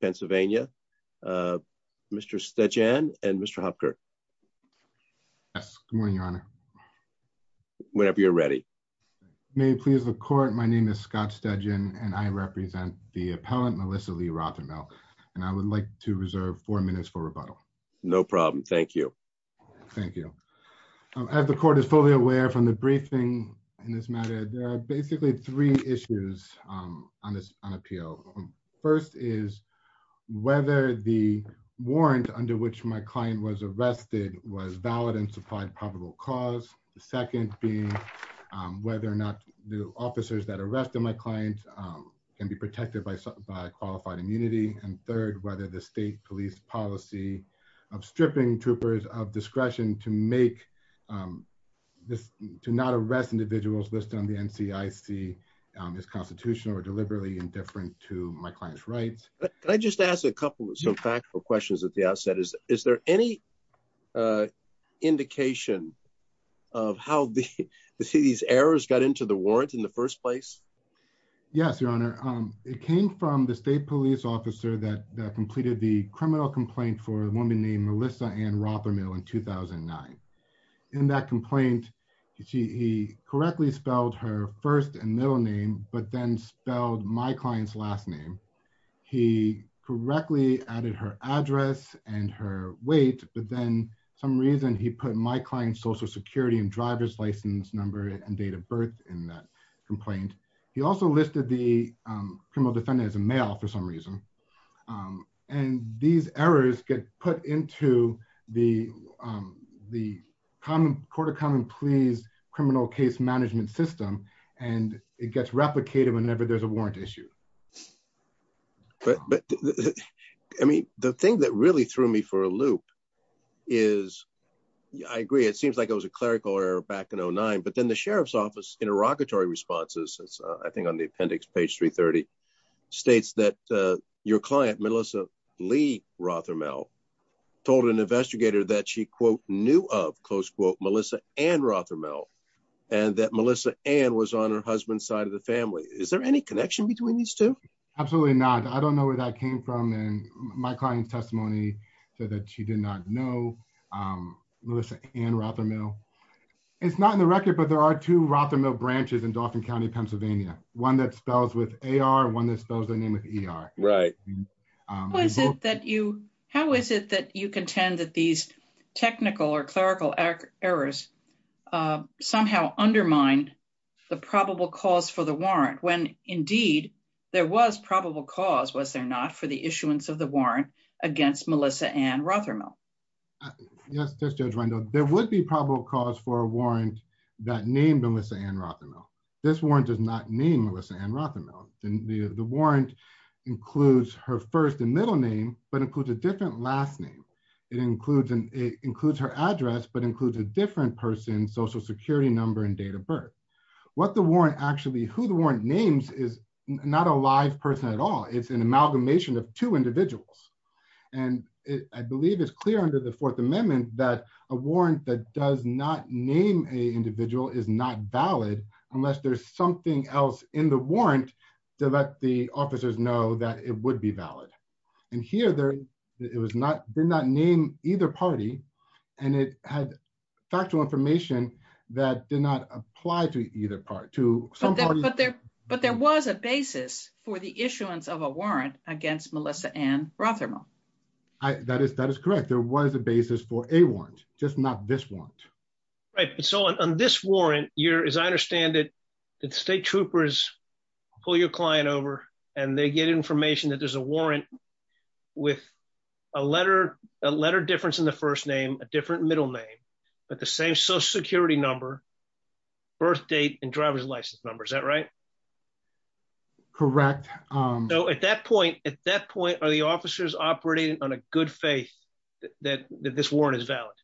Pennsylvania Mr. Stedgen and Mr. Hopkirk. Yes, good morning your honor. Whenever you're ready. May it please the court my name is Scott Stedgen and I represent the appellant Melissa Lee Rothermel and I would like to reserve four minutes for rebuttal. No problem, thank you. Thank you. As the court is fully aware from the briefing in this matter there are basically three issues on this on appeal. First is whether the warrant under which my client was arrested was valid and supplied probable cause. The second being whether or not the officers that arrested my client can be protected by qualified immunity and third whether the state police policy of stripping troopers of discretion to make this to not arrest individuals listed on the NCIC is constitutional or deliberately indifferent to my client's rights. Can I just ask a couple of some factual questions at the outset is is there any indication of how the city's errors got into the warrant in the first place? Yes, your honor. It came from the state police officer that completed the criminal complaint for a woman named Melissa Ann Rothermel in 2009. In that complaint he correctly spelled her first and middle name but then spelled my client's last name. He correctly added her address and her weight but then some reason he put my client's social security and driver's license number and date of birth in that complaint. He also listed the criminal defendant as a male for some reason and these errors get put into the the common court of common pleas criminal case management system and it gets replicated whenever there's a warrant issue. But I mean the thing that really threw me for a loop is I agree it seems like it was a clerical error back in 09 but then the sheriff's office interrogatory responses I think on the appendix page 330 states that your client Melissa Lee Rothermel told an investigator that she quote knew of close quote Melissa Ann Rothermel and that Melissa Ann was on her husband's side of the family. Is there any connection between these two? Absolutely not. I don't know where that came from and my client's testimony said that she did not know Melissa Ann Rothermel. It's not in the record but there are two Rothermel branches in Dauphin County Pennsylvania. One that spells with AR, one that spells their name with ER. Right. How is it that you contend that these technical or clerical errors somehow undermine the probable cause for the warrant when indeed there was probable cause was there not for the issuance of the warrant against Melissa Ann Rothermel? Yes Judge Wendell. There would be probable cause for a warrant that named Melissa Ann Rothermel. This warrant does not name Melissa Ann Rothermel. The warrant includes her first and middle name but includes a different last name. It includes her address but includes a different person's social security number and date of birth. What the warrant actually who the warrant names is not a live person at all. It's an amalgamation of two individuals and I believe it's clear under the fourth amendment that a warrant that does not name a individual is not valid unless there's something else in the warrant to let the officers know that it would be valid. Here it did not name either party and it had factual information that did not apply to either party. But there was a basis for the issuance of a warrant against Melissa Ann Rothermel. That is that is correct. There was a basis for a warrant just not this warrant. Right so on this warrant you're as I understand it that state troopers pull your client over and they get information that there's a warrant with a letter a letter difference in the first name a different middle name but the same social security number birth date and driver's license number. Is that right? Correct. So at that point at that point are the officers operating on a good faith that this warrant is valid?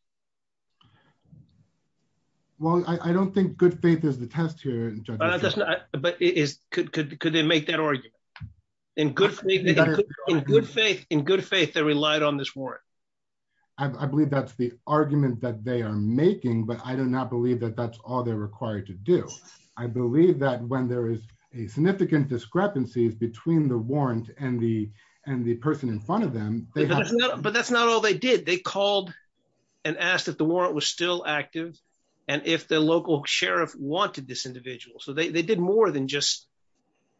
Well I don't think good faith is the test here. But it is could could they make that argument in good faith in good faith in good faith they relied on this warrant. I believe that's the I do not believe that that's all they're required to do. I believe that when there is a significant discrepancies between the warrant and the and the person in front of them. But that's not all they did. They called and asked if the warrant was still active and if the local sheriff wanted this individual. So they did more than just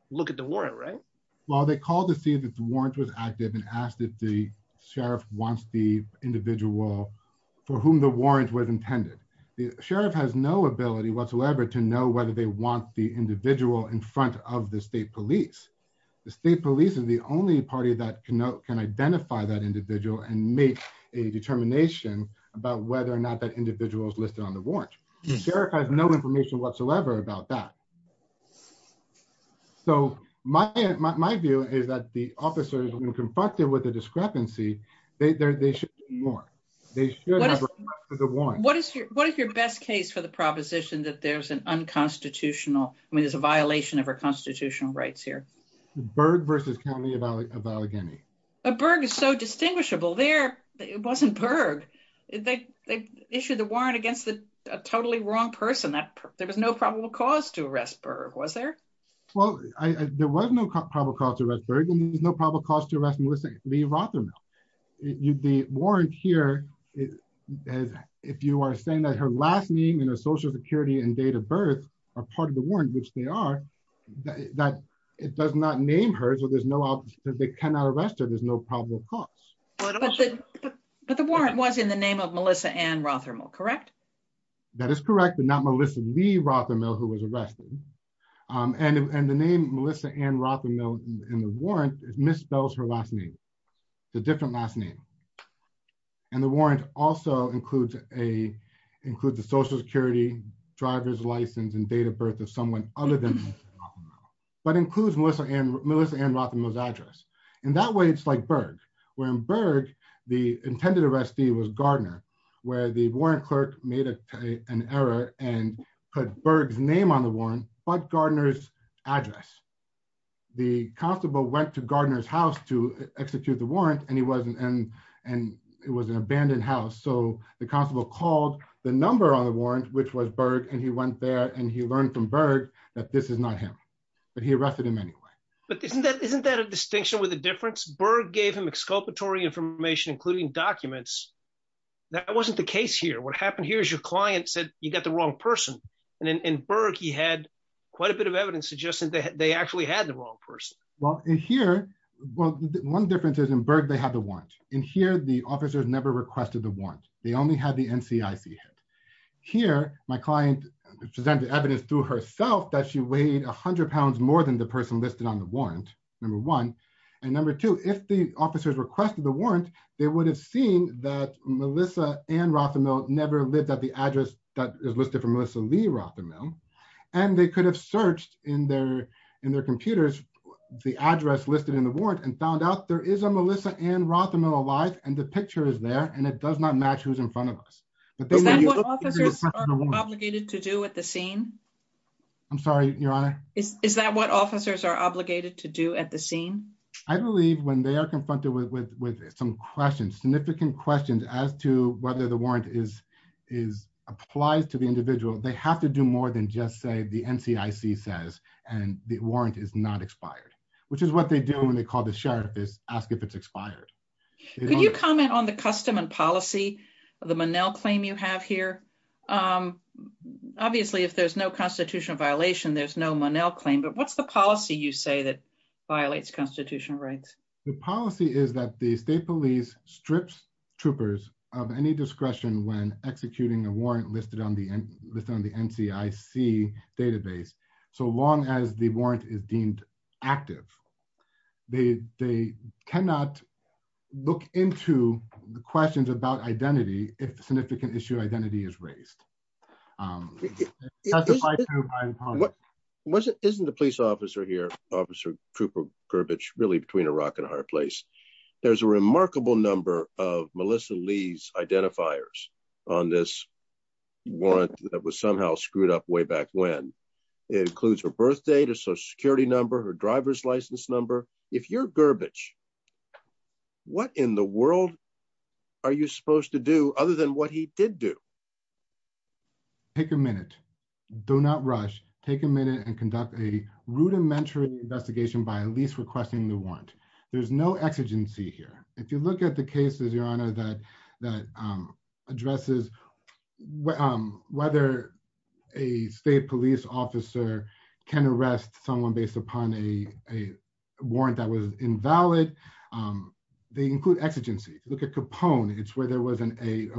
look at the warrant right? Well they called to see that the warrant was active and asked if the for whom the warrant was intended. The sheriff has no ability whatsoever to know whether they want the individual in front of the state police. The state police is the only party that can know can identify that individual and make a determination about whether or not that individual is listed on the warrant. The sheriff has no information whatsoever about that. So my my view is that the officers when confronted with a discrepancy they should be warned. They should have a warrant. What is your what is your best case for the proposition that there's an unconstitutional I mean there's a violation of our constitutional rights here? Berg versus County of Allegheny. But Berg is so distinguishable there it wasn't Berg. They they issued the warrant against the totally wrong person that there was no probable cause to there's no probable cause to arrest Melissa Lee Rothermill. The warrant here is as if you are saying that her last name and her social security and date of birth are part of the warrant which they are that it does not name her so there's no they cannot arrest her there's no probable cause. But the warrant was in the name of Melissa Ann Rothermill correct? That is correct but not Melissa Lee Rothermill who was arrested. Um and and the name Melissa Ann Rothermill in the warrant misspells her last name. It's a different last name. And the warrant also includes a includes the social security driver's license and date of birth of someone other than Melissa Rothermill. But includes Melissa Ann Rothermill's address. In that way it's like Berg. Where in Berg the intended arrestee was Gardner. Where the warrant clerk made an error and put Berg's name on the warrant but Gardner's address. The constable went to Gardner's house to execute the warrant and he wasn't and and it was an abandoned house so the constable called the number on the warrant which was Berg and he went there and he learned from Berg that this is not him. But he arrested him anyway. But isn't that isn't that a distinction with a difference? Berg gave him exculpatory information including documents. That wasn't the case here. What happened here is your client said you got the wrong person. And in in Berg he had quite a bit of evidence suggesting that they actually had the wrong person. Well in here well one difference is in Berg they have the warrant. In here the officers never requested the warrant. They only had the NCIC hit. Here my client presented evidence through herself that she weighed a hundred pounds more than the person listed on the warrant. Number one. And number two if the officers requested the warrant they would have seen that Melissa Ann Rothamil never lived at the address that is listed for Melissa Lee Rothamil and they could have searched in their in their computers the address listed in the warrant and found out there is a Melissa Ann Rothamil alive and the picture is there and it does not match who's in front of us. Is that what officers are obligated to do at the scene? I'm sorry your honor? Is that what officers are obligated to do at the scene? I believe when they are confronted with some questions significant questions as to whether the warrant is is applies to the individual they have to do more than just say the NCIC says and the warrant is not expired which is what they do when they call the sheriff is ask if it's expired. Could you comment on the custom and policy of the obviously if there's no constitutional violation there's no Monell claim but what's the policy you say that violates constitutional rights? The policy is that the state police strips troopers of any discretion when executing a warrant listed on the NCIC database so long as the warrant is deemed active. They cannot look into the questions about identity if the significant issue identity is raised. Isn't the police officer here officer Cooper Gurbich really between a rock and a hard place? There's a remarkable number of Melissa Lee's identifiers on this warrant that was somehow screwed up way back when. It includes her birthday, her social security number, her driver's license number. If you're Gurbich what in the world are you supposed to do other than what he did do? Take a minute. Do not rush. Take a minute and conduct a rudimentary investigation by at least requesting the warrant. There's no exigency here. If you look at the cases your honor that that addresses whether a state police officer can arrest someone based upon a warrant that was invalid they include exigency. Look at Capone. It's where there was a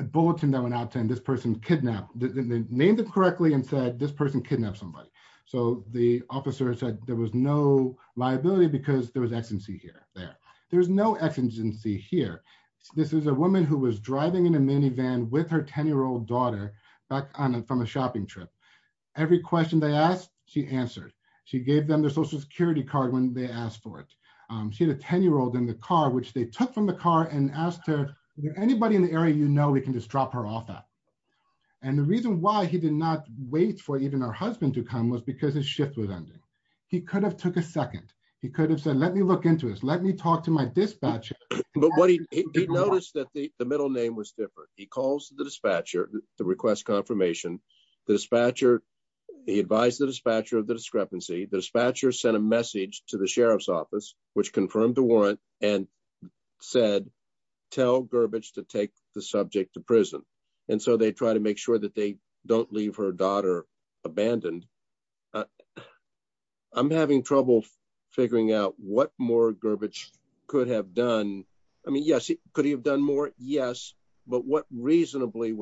bulletin that went out saying this person kidnapped. They named it correctly and said this person kidnapped somebody. So the officer said there was no liability because there was exigency here there. There's no exigency here. This is a woman who was driving in a minivan with her 10-year-old daughter back on from a shopping trip. Every question they asked she answered. She gave them their social security card when they asked for it. She had a 10-year-old in the car which they took from the car and asked her, is there anybody in the area you know we can just drop her off at? And the reason why he did not wait for even her husband to come was because his shift was ending. He could have took a second. He could have said let me look into this. Let me talk to my dispatcher. But what he did notice that the middle name was different. He calls the dispatcher to request confirmation. The dispatcher, he advised the dispatcher of the discrepancy. The dispatcher sent a message to the sheriff's office which confirmed the warrant and said tell Gurbich to take the subject to prison. And so they try to make sure that they don't leave her daughter abandoned. I'm having trouble figuring out what more Gurbich could have done. I mean yes, could he have done more? Yes. But what reasonably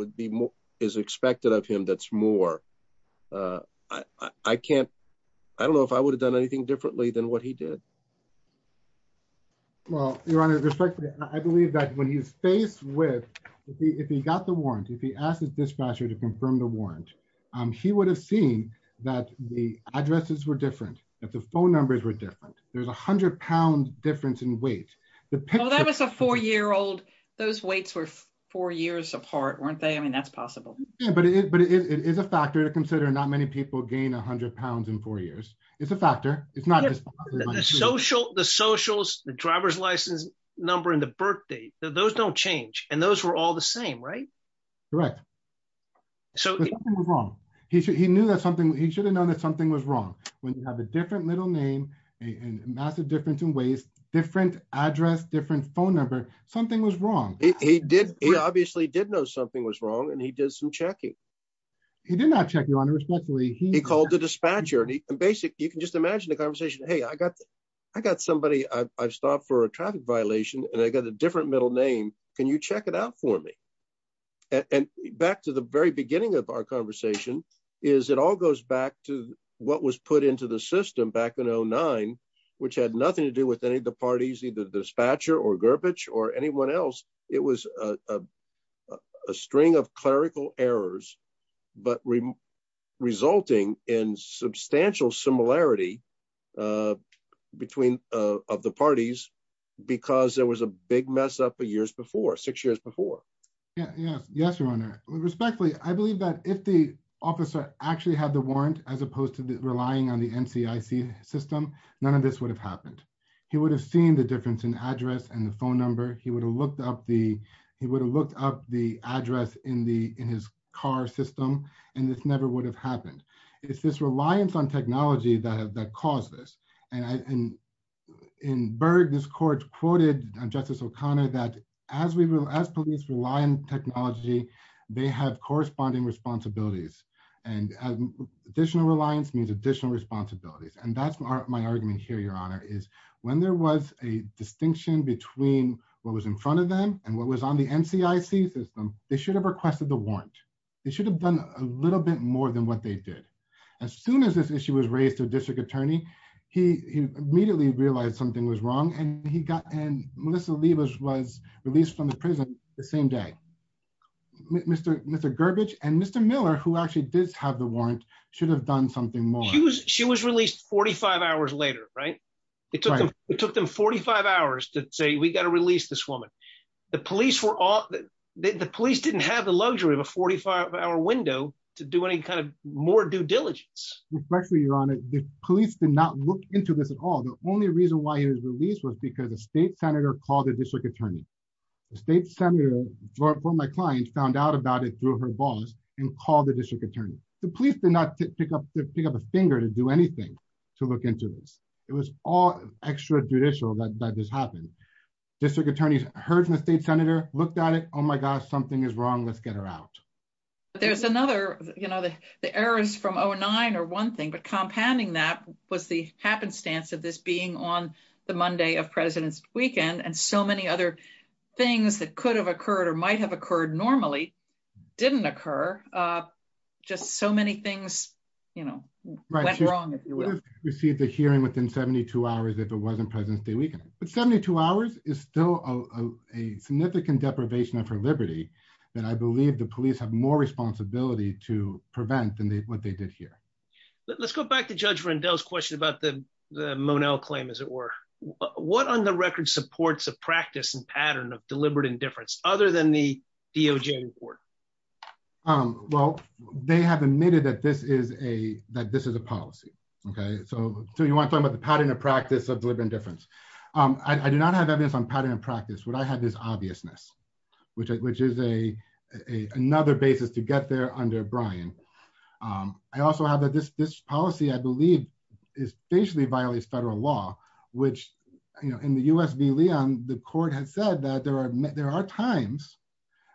is expected of him that's more? I don't know if I would have done anything differently than what he did. Well your honor, I believe that when he's faced with, if he got the warrant, if he asked dispatcher to confirm the warrant, he would have seen that the addresses were different. That the phone numbers were different. There's a hundred pound difference in weight. That was a four-year-old. Those weights were four years apart, weren't they? I mean that's possible. Yeah, but it is a factor to consider. Not many people gain a hundred pounds in four years. It's a factor. It's not just social. The socials, the driver's license number, and the birth date, those don't change. And those are all the same, right? Correct. But something was wrong. He knew that something, he should have known that something was wrong. When you have a different middle name, a massive difference in ways, different address, different phone number, something was wrong. He did, he obviously did know something was wrong and he did some checking. He did not check, your honor, respectfully. He called the dispatcher and he basically, you can just imagine the conversation, hey I got, I got somebody, I've stopped for a traffic violation and I got a different middle name. Can you check it out for me? And back to the very beginning of our conversation, is it all goes back to what was put into the system back in 2009, which had nothing to do with any of the parties, either the dispatcher or Gurbach or anyone else. It was a string of clerical errors, but resulting in substantial similarity between, of the parties, because there was a big mess up years before, six years before. Yes, your honor. Respectfully, I believe that if the officer actually had the warrant, as opposed to relying on the NCIC system, none of this would have happened. He would have seen the difference in address and the phone number. He would have looked up the address in his car system and this never would have happened. It's this reliance on that as police rely on technology, they have corresponding responsibilities and additional reliance means additional responsibilities. And that's my argument here, your honor, is when there was a distinction between what was in front of them and what was on the NCIC system, they should have requested the warrant. They should have done a little bit more than what they did. As soon as this issue was raised to a district attorney, he immediately realized something was wrong and he got, and Melissa Leibovitz was released from the prison the same day. Mr. Gurbach and Mr. Miller, who actually did have the warrant, should have done something more. She was released 45 hours later, right? It took them 45 hours to say, we got to release this woman. The police were all, the police didn't have the luxury of a 45 hour window to do any kind of more due diligence. Respectfully, your honor, the police did not look into this at all. The only reason why he was released was because a state senator called the district attorney. The state senator, for my client, found out about it through her boss and called the district attorney. The police did not pick up a finger to do anything to look into this. It was all extra judicial that this happened. District attorneys heard from the state senator, looked at it, oh my gosh, something is wrong, let's get her out. But there's another, you know, the errors from 09 are one thing. But compounding that was the happenstance of this being on the Monday of President's weekend and so many other things that could have occurred or might have occurred normally didn't occur. Just so many things, you know, went wrong, if you will. Received the hearing within 72 hours if it wasn't President's Day weekend. But 72 hours is still a significant deprivation of her liberty that I believe the police have more responsibility to Let's go back to Judge Rendell's question about the Monell claim, as it were. What on the record supports a practice and pattern of deliberate indifference other than the DOJ report? Well, they have admitted that this is a policy, okay? So you want to talk about the pattern of practice of deliberate indifference. I do not have evidence on pattern and practice. What I have is this policy, I believe, is basically violates federal law, which, you know, in the U.S. v. Leon, the court has said that there are times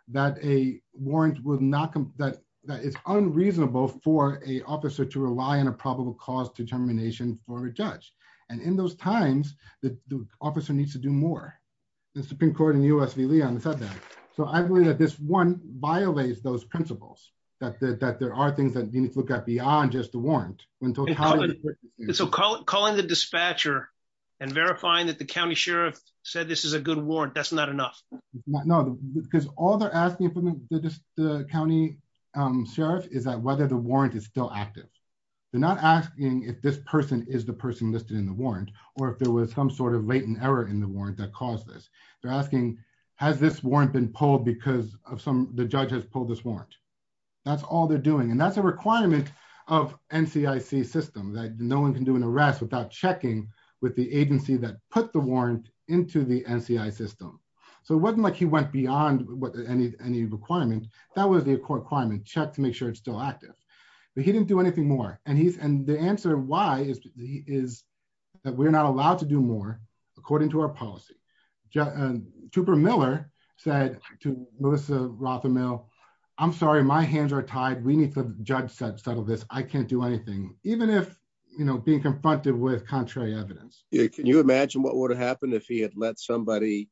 that a warrant would not come, that it's unreasonable for an officer to rely on a probable cause determination for a judge. And in those times, the officer needs to do more. The Supreme Court in the U.S. v. Leon said that. So I believe that this one violates those principles, that there are things that need to look at beyond just the warrant. So calling the dispatcher and verifying that the county sheriff said this is a good warrant, that's not enough? No, because all they're asking from the county sheriff is that whether the warrant is still active. They're not asking if this person is the person listed in the warrant or if there was some sort of latent error in the warrant that caused this. They're asking, has this warrant been pulled because the judge has pulled this warrant? That's all they're doing. That's a requirement of NCIC system, that no one can do an arrest without checking with the agency that put the warrant into the NCI system. So it wasn't like he went beyond any requirement. That was the requirement, check to make sure it's still active. But he didn't do anything more. The answer why is that we're not allowed to do more according to our policy. And Tupper Miller said to Melissa Rothermill, I'm sorry, my hands are tied. We need to, judge said, settle this. I can't do anything, even if, you know, being confronted with contrary evidence. Can you imagine what would have happened if he had let somebody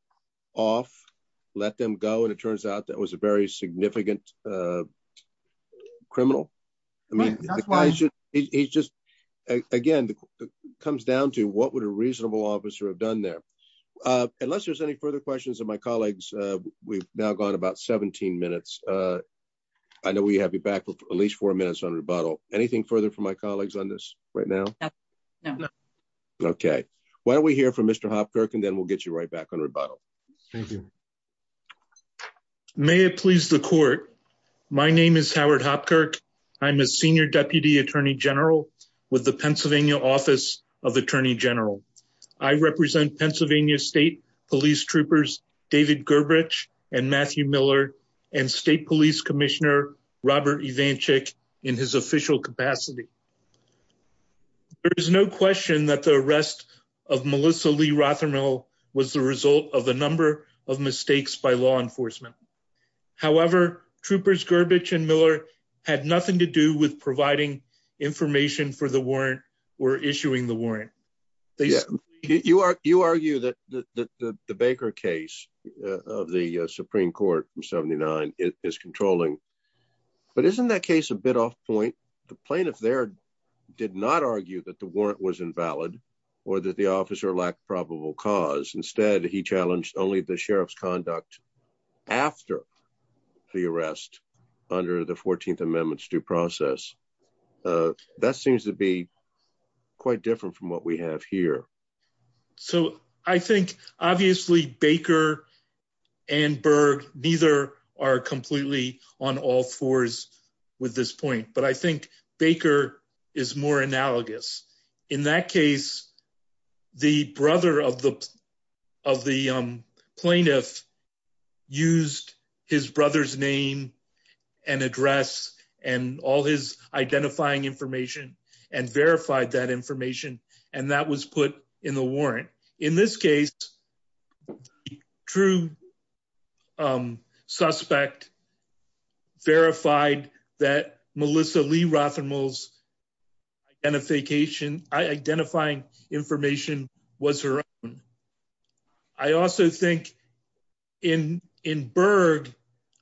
off, let them go? And it turns out that was a very significant criminal. I mean, he's just, again, comes down to what would a reasonable officer have done there? Unless there's any further questions of my colleagues, we've now gone about 17 minutes. I know we have you back with at least four minutes on rebuttal. Anything further from my colleagues on this right now? Okay. Why don't we hear from Mr. Hopkirk and then we'll get you right back on rebuttal. Thank you. May it please the court. My name is Howard Hopkirk. I'm a senior deputy attorney general with the Pennsylvania Office of Attorney General. I represent Pennsylvania State Police Troopers David Gerberich and Matthew Miller and State Police Commissioner Robert Ivancic in his official capacity. There is no question that the arrest of Melissa Lee Rothermill was the result of a number of mistakes by law enforcement. However, Troopers Gerberich and Miller had nothing to do with providing information for the warrant or issuing the warrant. You argue that the Baker case of the Supreme Court from 79 is controlling, but isn't that case a bit off point? The plaintiff there did not argue that the warrant was invalid or that the officer lacked probable cause. Instead, he challenged only the sheriff's conduct after the arrest under the 14th Amendment's due process. That seems to be quite different from what we have here. So I think obviously Baker and Berg neither are completely on all fours with this point, but I think Baker is more analogous. In that case, the brother of the plaintiff used his brother's name and address and all his identifying information and verified that information and that was put in the warrant. In this case, the true suspect verified that information. In Berg,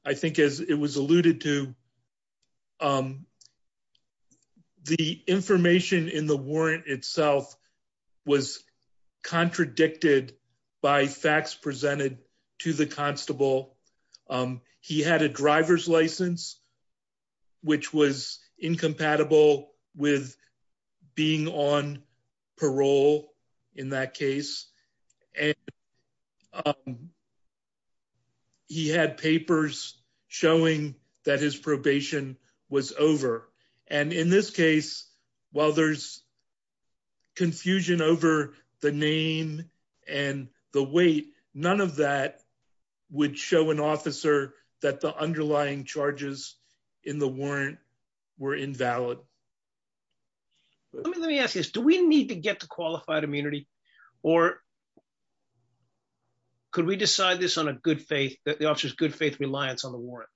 I think as it was alluded to, the information in the warrant itself was contradicted by facts presented to the constable. He had a driver's license, which was incompatible with being on parole in that case. He had papers showing that his probation was over. In this case, while there's confusion over the name and the weight, none of would show an officer that the underlying charges in the warrant were invalid. Let me ask you this. Do we need to get the qualified immunity or could we decide this on a good faith, the officer's good faith reliance on the warrant?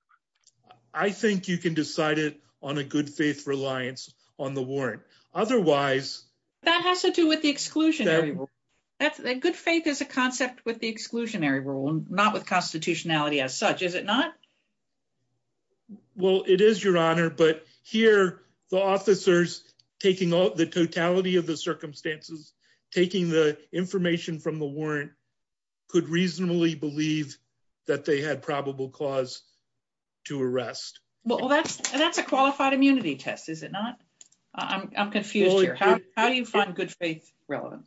I think you can decide it on a good faith reliance on the warrant. Otherwise... That has to do with the exclusionary rule. Good faith is a concept with the exclusionary rule, not with constitutionality as such. Is it not? Well, it is, Your Honor, but here the officers taking the totality of the circumstances, taking the information from the warrant, could reasonably believe that they had probable cause to arrest. Well, that's a qualified immunity test, is it not? I'm confused here. How do you find good faith relevant?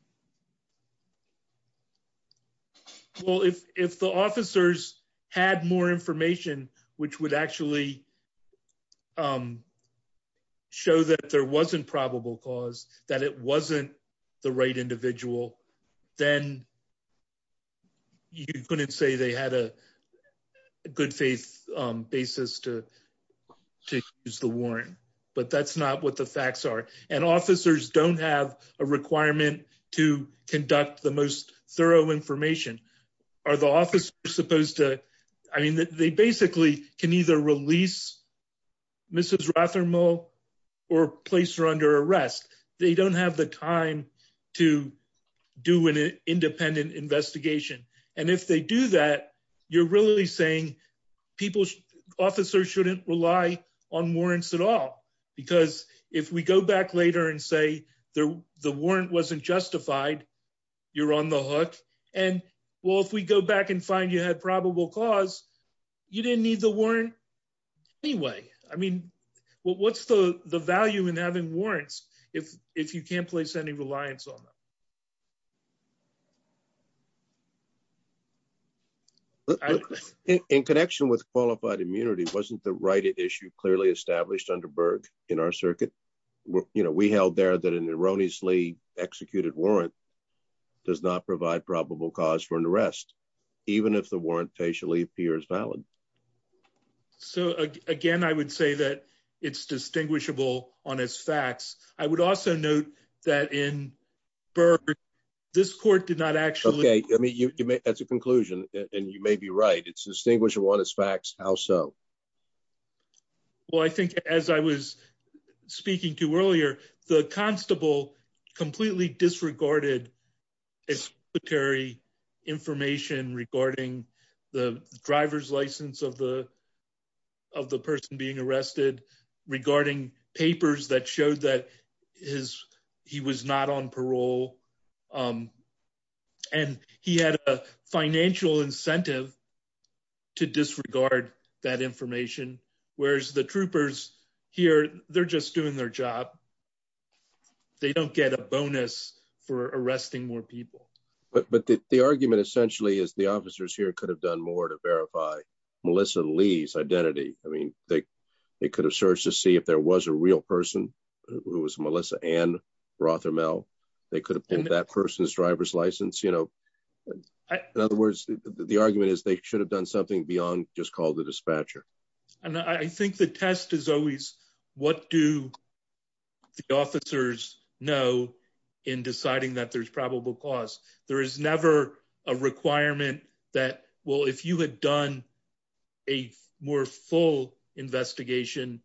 Well, if the officers had more information, which would actually show that there wasn't probable cause, that it wasn't the right individual, then you couldn't say they had a good faith basis to use the warrant, but that's not what the facts are. And officers don't have a requirement to conduct the most thorough information. I mean, they basically can either release Mrs. Rothermel or place her under arrest. They don't have the time to do an independent investigation. And if they do that, you're saying officers shouldn't rely on warrants at all. Because if we go back later and say the warrant wasn't justified, you're on the hook. And well, if we go back and find you had probable cause, you didn't need the warrant anyway. I mean, what's the value in having warrants if you can't place any reliance on them? In connection with qualified immunity, wasn't the right issue clearly established under Berg in our circuit? We held there that an erroneously executed warrant does not provide probable cause for an arrest, even if the warrant facially appears valid. So again, I would say that it's distinguishable on its facts. I would also note that in Berg, this court did not actually... Okay. I mean, that's a conclusion and you may be right. It's distinguishable on its facts. How so? Well, I think as I was speaking to earlier, the constable completely disregarded executory information regarding the driver's license of the person being arrested, regarding papers that showed that he was not on parole. And he had a financial incentive to disregard that information. Whereas the troopers here, they're just doing their job. They don't get a bonus for arresting more people. But the argument essentially is the officers here could have done more to verify Melissa Lee's identity. I mean, they could have searched to see if there was a real person who was Melissa Ann Rothermel. They could have pulled that person's driver's license. In other words, the argument is they should have done something beyond just call the dispatcher. And I think the test is always what do the officers know in deciding that there's probable cause. There is never a requirement that, well, if you had done a more full investigation,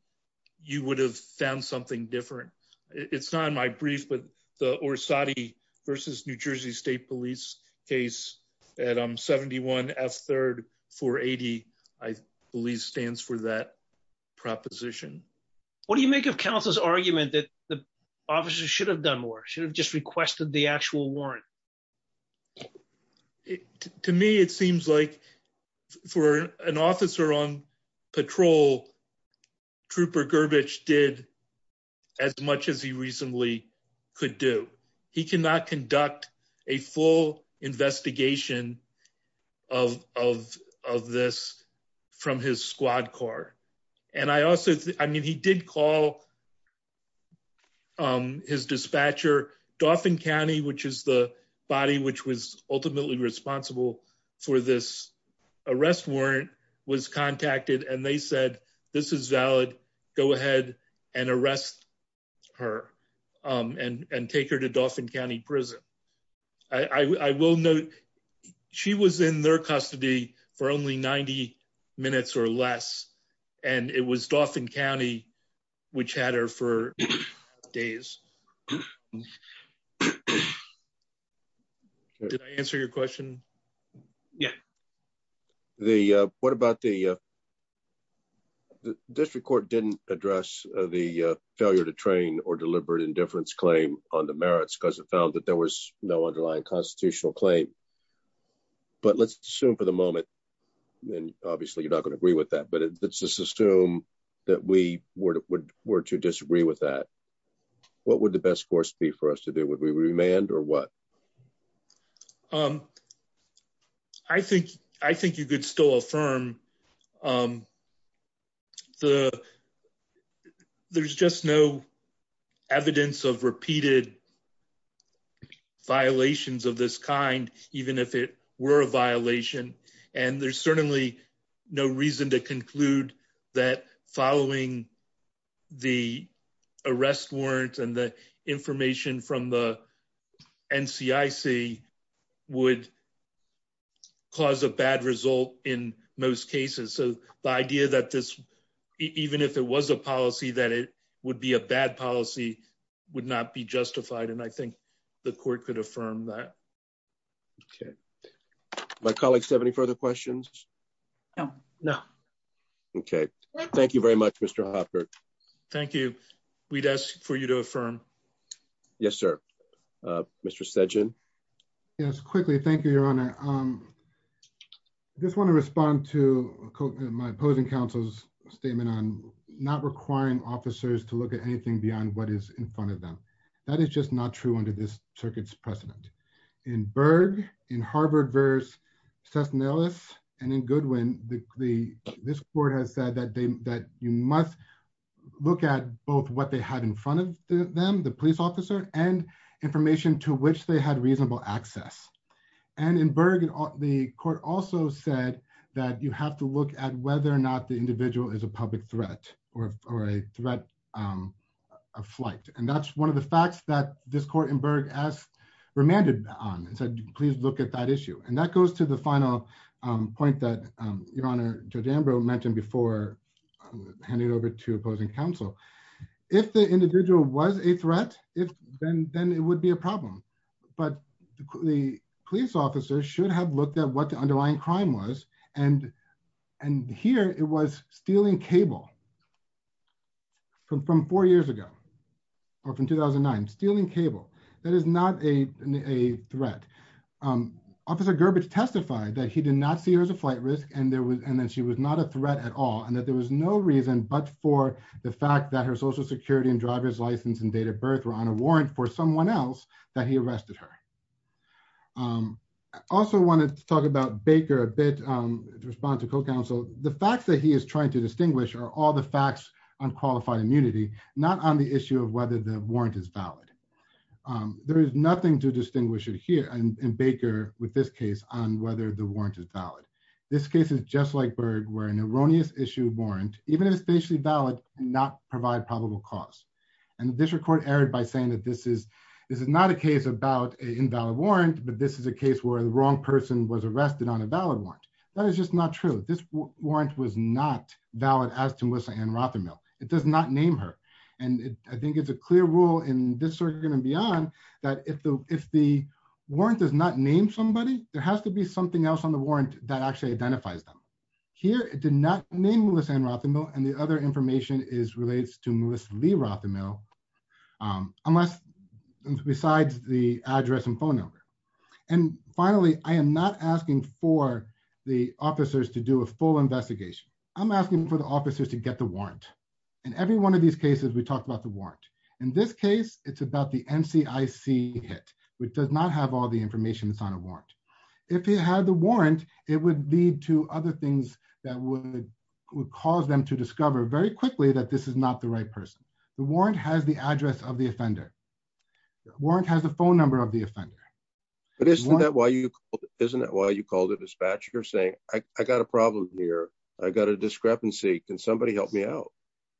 you would have found something different. It's not in my brief, but the Orsatti versus New Proposition. What do you make of counsel's argument that the officers should have done more should have just requested the actual warrant? To me, it seems like for an officer on patrol trooper garbage did as much as he reasonably could do. He cannot conduct a full investigation of of of this from his squad car. And I also I mean, he did call his dispatcher, Dauphin County, which is the body which was ultimately responsible for this arrest warrant was contacted and they said, this is valid. Go ahead and arrest her and take her to Dauphin County Prison. I will note she was in their custody for only 90 minutes or less, and it was Dauphin County which had her for days. Did I answer your question? Yeah. What about the district court didn't address the failure to train or deliberate indifference claim on the merits because it found that there was no underlying constitutional claim. But let's assume for the moment and obviously you're not going to agree with that, but let's just assume that we were to disagree with that. What would the best course be for us to do? Would we remand or what? I think I think you could still affirm the there's just no evidence of repeated violations of this kind, even if it were a violation. And there's certainly no reason to NCIC would cause a bad result in most cases. So the idea that this, even if it was a policy, that it would be a bad policy, would not be justified. And I think the court could affirm that. Okay. My colleagues have any further questions? No, no. Okay. Thank you very much, Mr. Hopper. Thank you. We'd ask for you to affirm. Yes, sir. Mr. Sajan. Yes, quickly. Thank you, Your Honor. I just want to respond to my opposing counsel's statement on not requiring officers to look at anything beyond what is in front of them. That is just not true under this circuit's precedent. In Berg, in Harvard versus Seth Nellis, and in Goodwin, this court has said that you must look at both what they had in front of them, the police officer, and information to which they had reasonable access. And in Berg, the court also said that you have to look at whether or not the individual is a public threat or a threat of flight. And that's one of the facts that this court in Berg has remanded on and said, please look at that issue. And that goes to the handing it over to opposing counsel. If the individual was a threat, then it would be a problem. But the police officer should have looked at what the underlying crime was. And here it was stealing cable from four years ago, or from 2009, stealing cable. That is not a threat. Officer Gerbich testified that he did not see her as a flight risk and that she was not a reason but for the fact that her social security and driver's license and date of birth were on a warrant for someone else that he arrested her. I also wanted to talk about Baker a bit in response to co-counsel. The facts that he is trying to distinguish are all the facts on qualified immunity, not on the issue of whether the warrant is valid. There is nothing to distinguish it here in Baker with this case on whether the warrant is valid. This case is just where an erroneous issue warrant, even if it is valid, does not provide probable cause. This is not a case about an invalid warrant, but this is a case where the wrong person was arrested on a valid warrant. That is just not true. This warrant was not valid. It does not name her. I think it is a clear rule in this circuit and beyond that if the warrant does not name somebody, there has to be something else on the warrant that identifies them. Here, it did not name Melissa and the other information relates to Melissa Lee unless besides the address and phone number. Finally, I am not asking for the officers to do a full investigation. I am asking for the officers to get the warrant. In every one of these cases, we talk about the warrant. In this case, it is about the NCIC hit, which does not have all information on a warrant. If it had the warrant, it would lead to other things that would cause them to discover very quickly that this is not the right person. The warrant has the address of the offender. The warrant has the phone number of the offender. Isn't that why you called the dispatcher saying I have a problem here? I have a discrepancy. Can somebody help me out?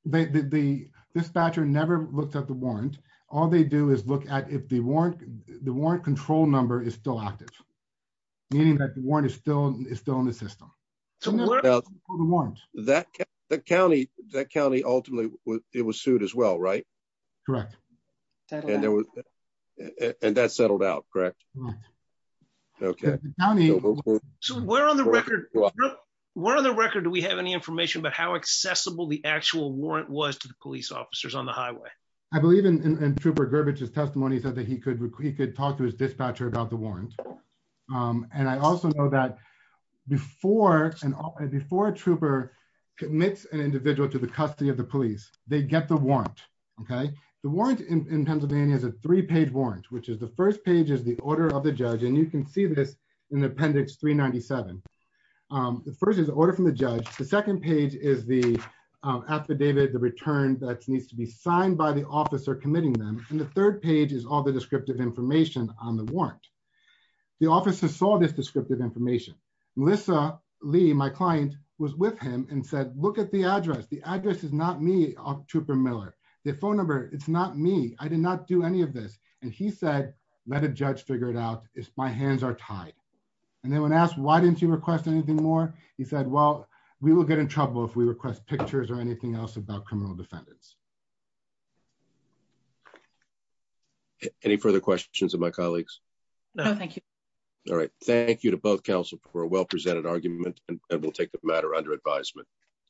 The dispatcher never looked at the warrant. All they do is look at if the warrant control number is still active, meaning that the warrant is still in the system. That county ultimately was sued as well, right? Correct. And that settled out, correct? Right. So, where on the record do we have any information about how accessible the actual warrant was to the police officers on the highway? I believe in Trooper Gerbich's testimony, he said that he could talk to his dispatcher about the warrant. And I also know that before a trooper commits an individual to the custody of the police, they get the warrant. The warrant in can see this in appendix 397. The first is the order from the judge. The second page is the affidavit, the return that needs to be signed by the officer committing them. And the third page is all the descriptive information on the warrant. The officer saw this descriptive information. Melissa Lee, my client, was with him and said, look at the address. The address is not me, Trooper Miller. The phone number, it's not me. I did not do any of this. And he said, let a judge figure it out. My hands are tied. And then when asked, why didn't you request anything more? He said, well, we will get in trouble if we request pictures or anything else about criminal defendants. Any further questions of my colleagues? No, thank you. All right. Thank you to both counsel for a well-presented argument and we'll take the matter under advisement.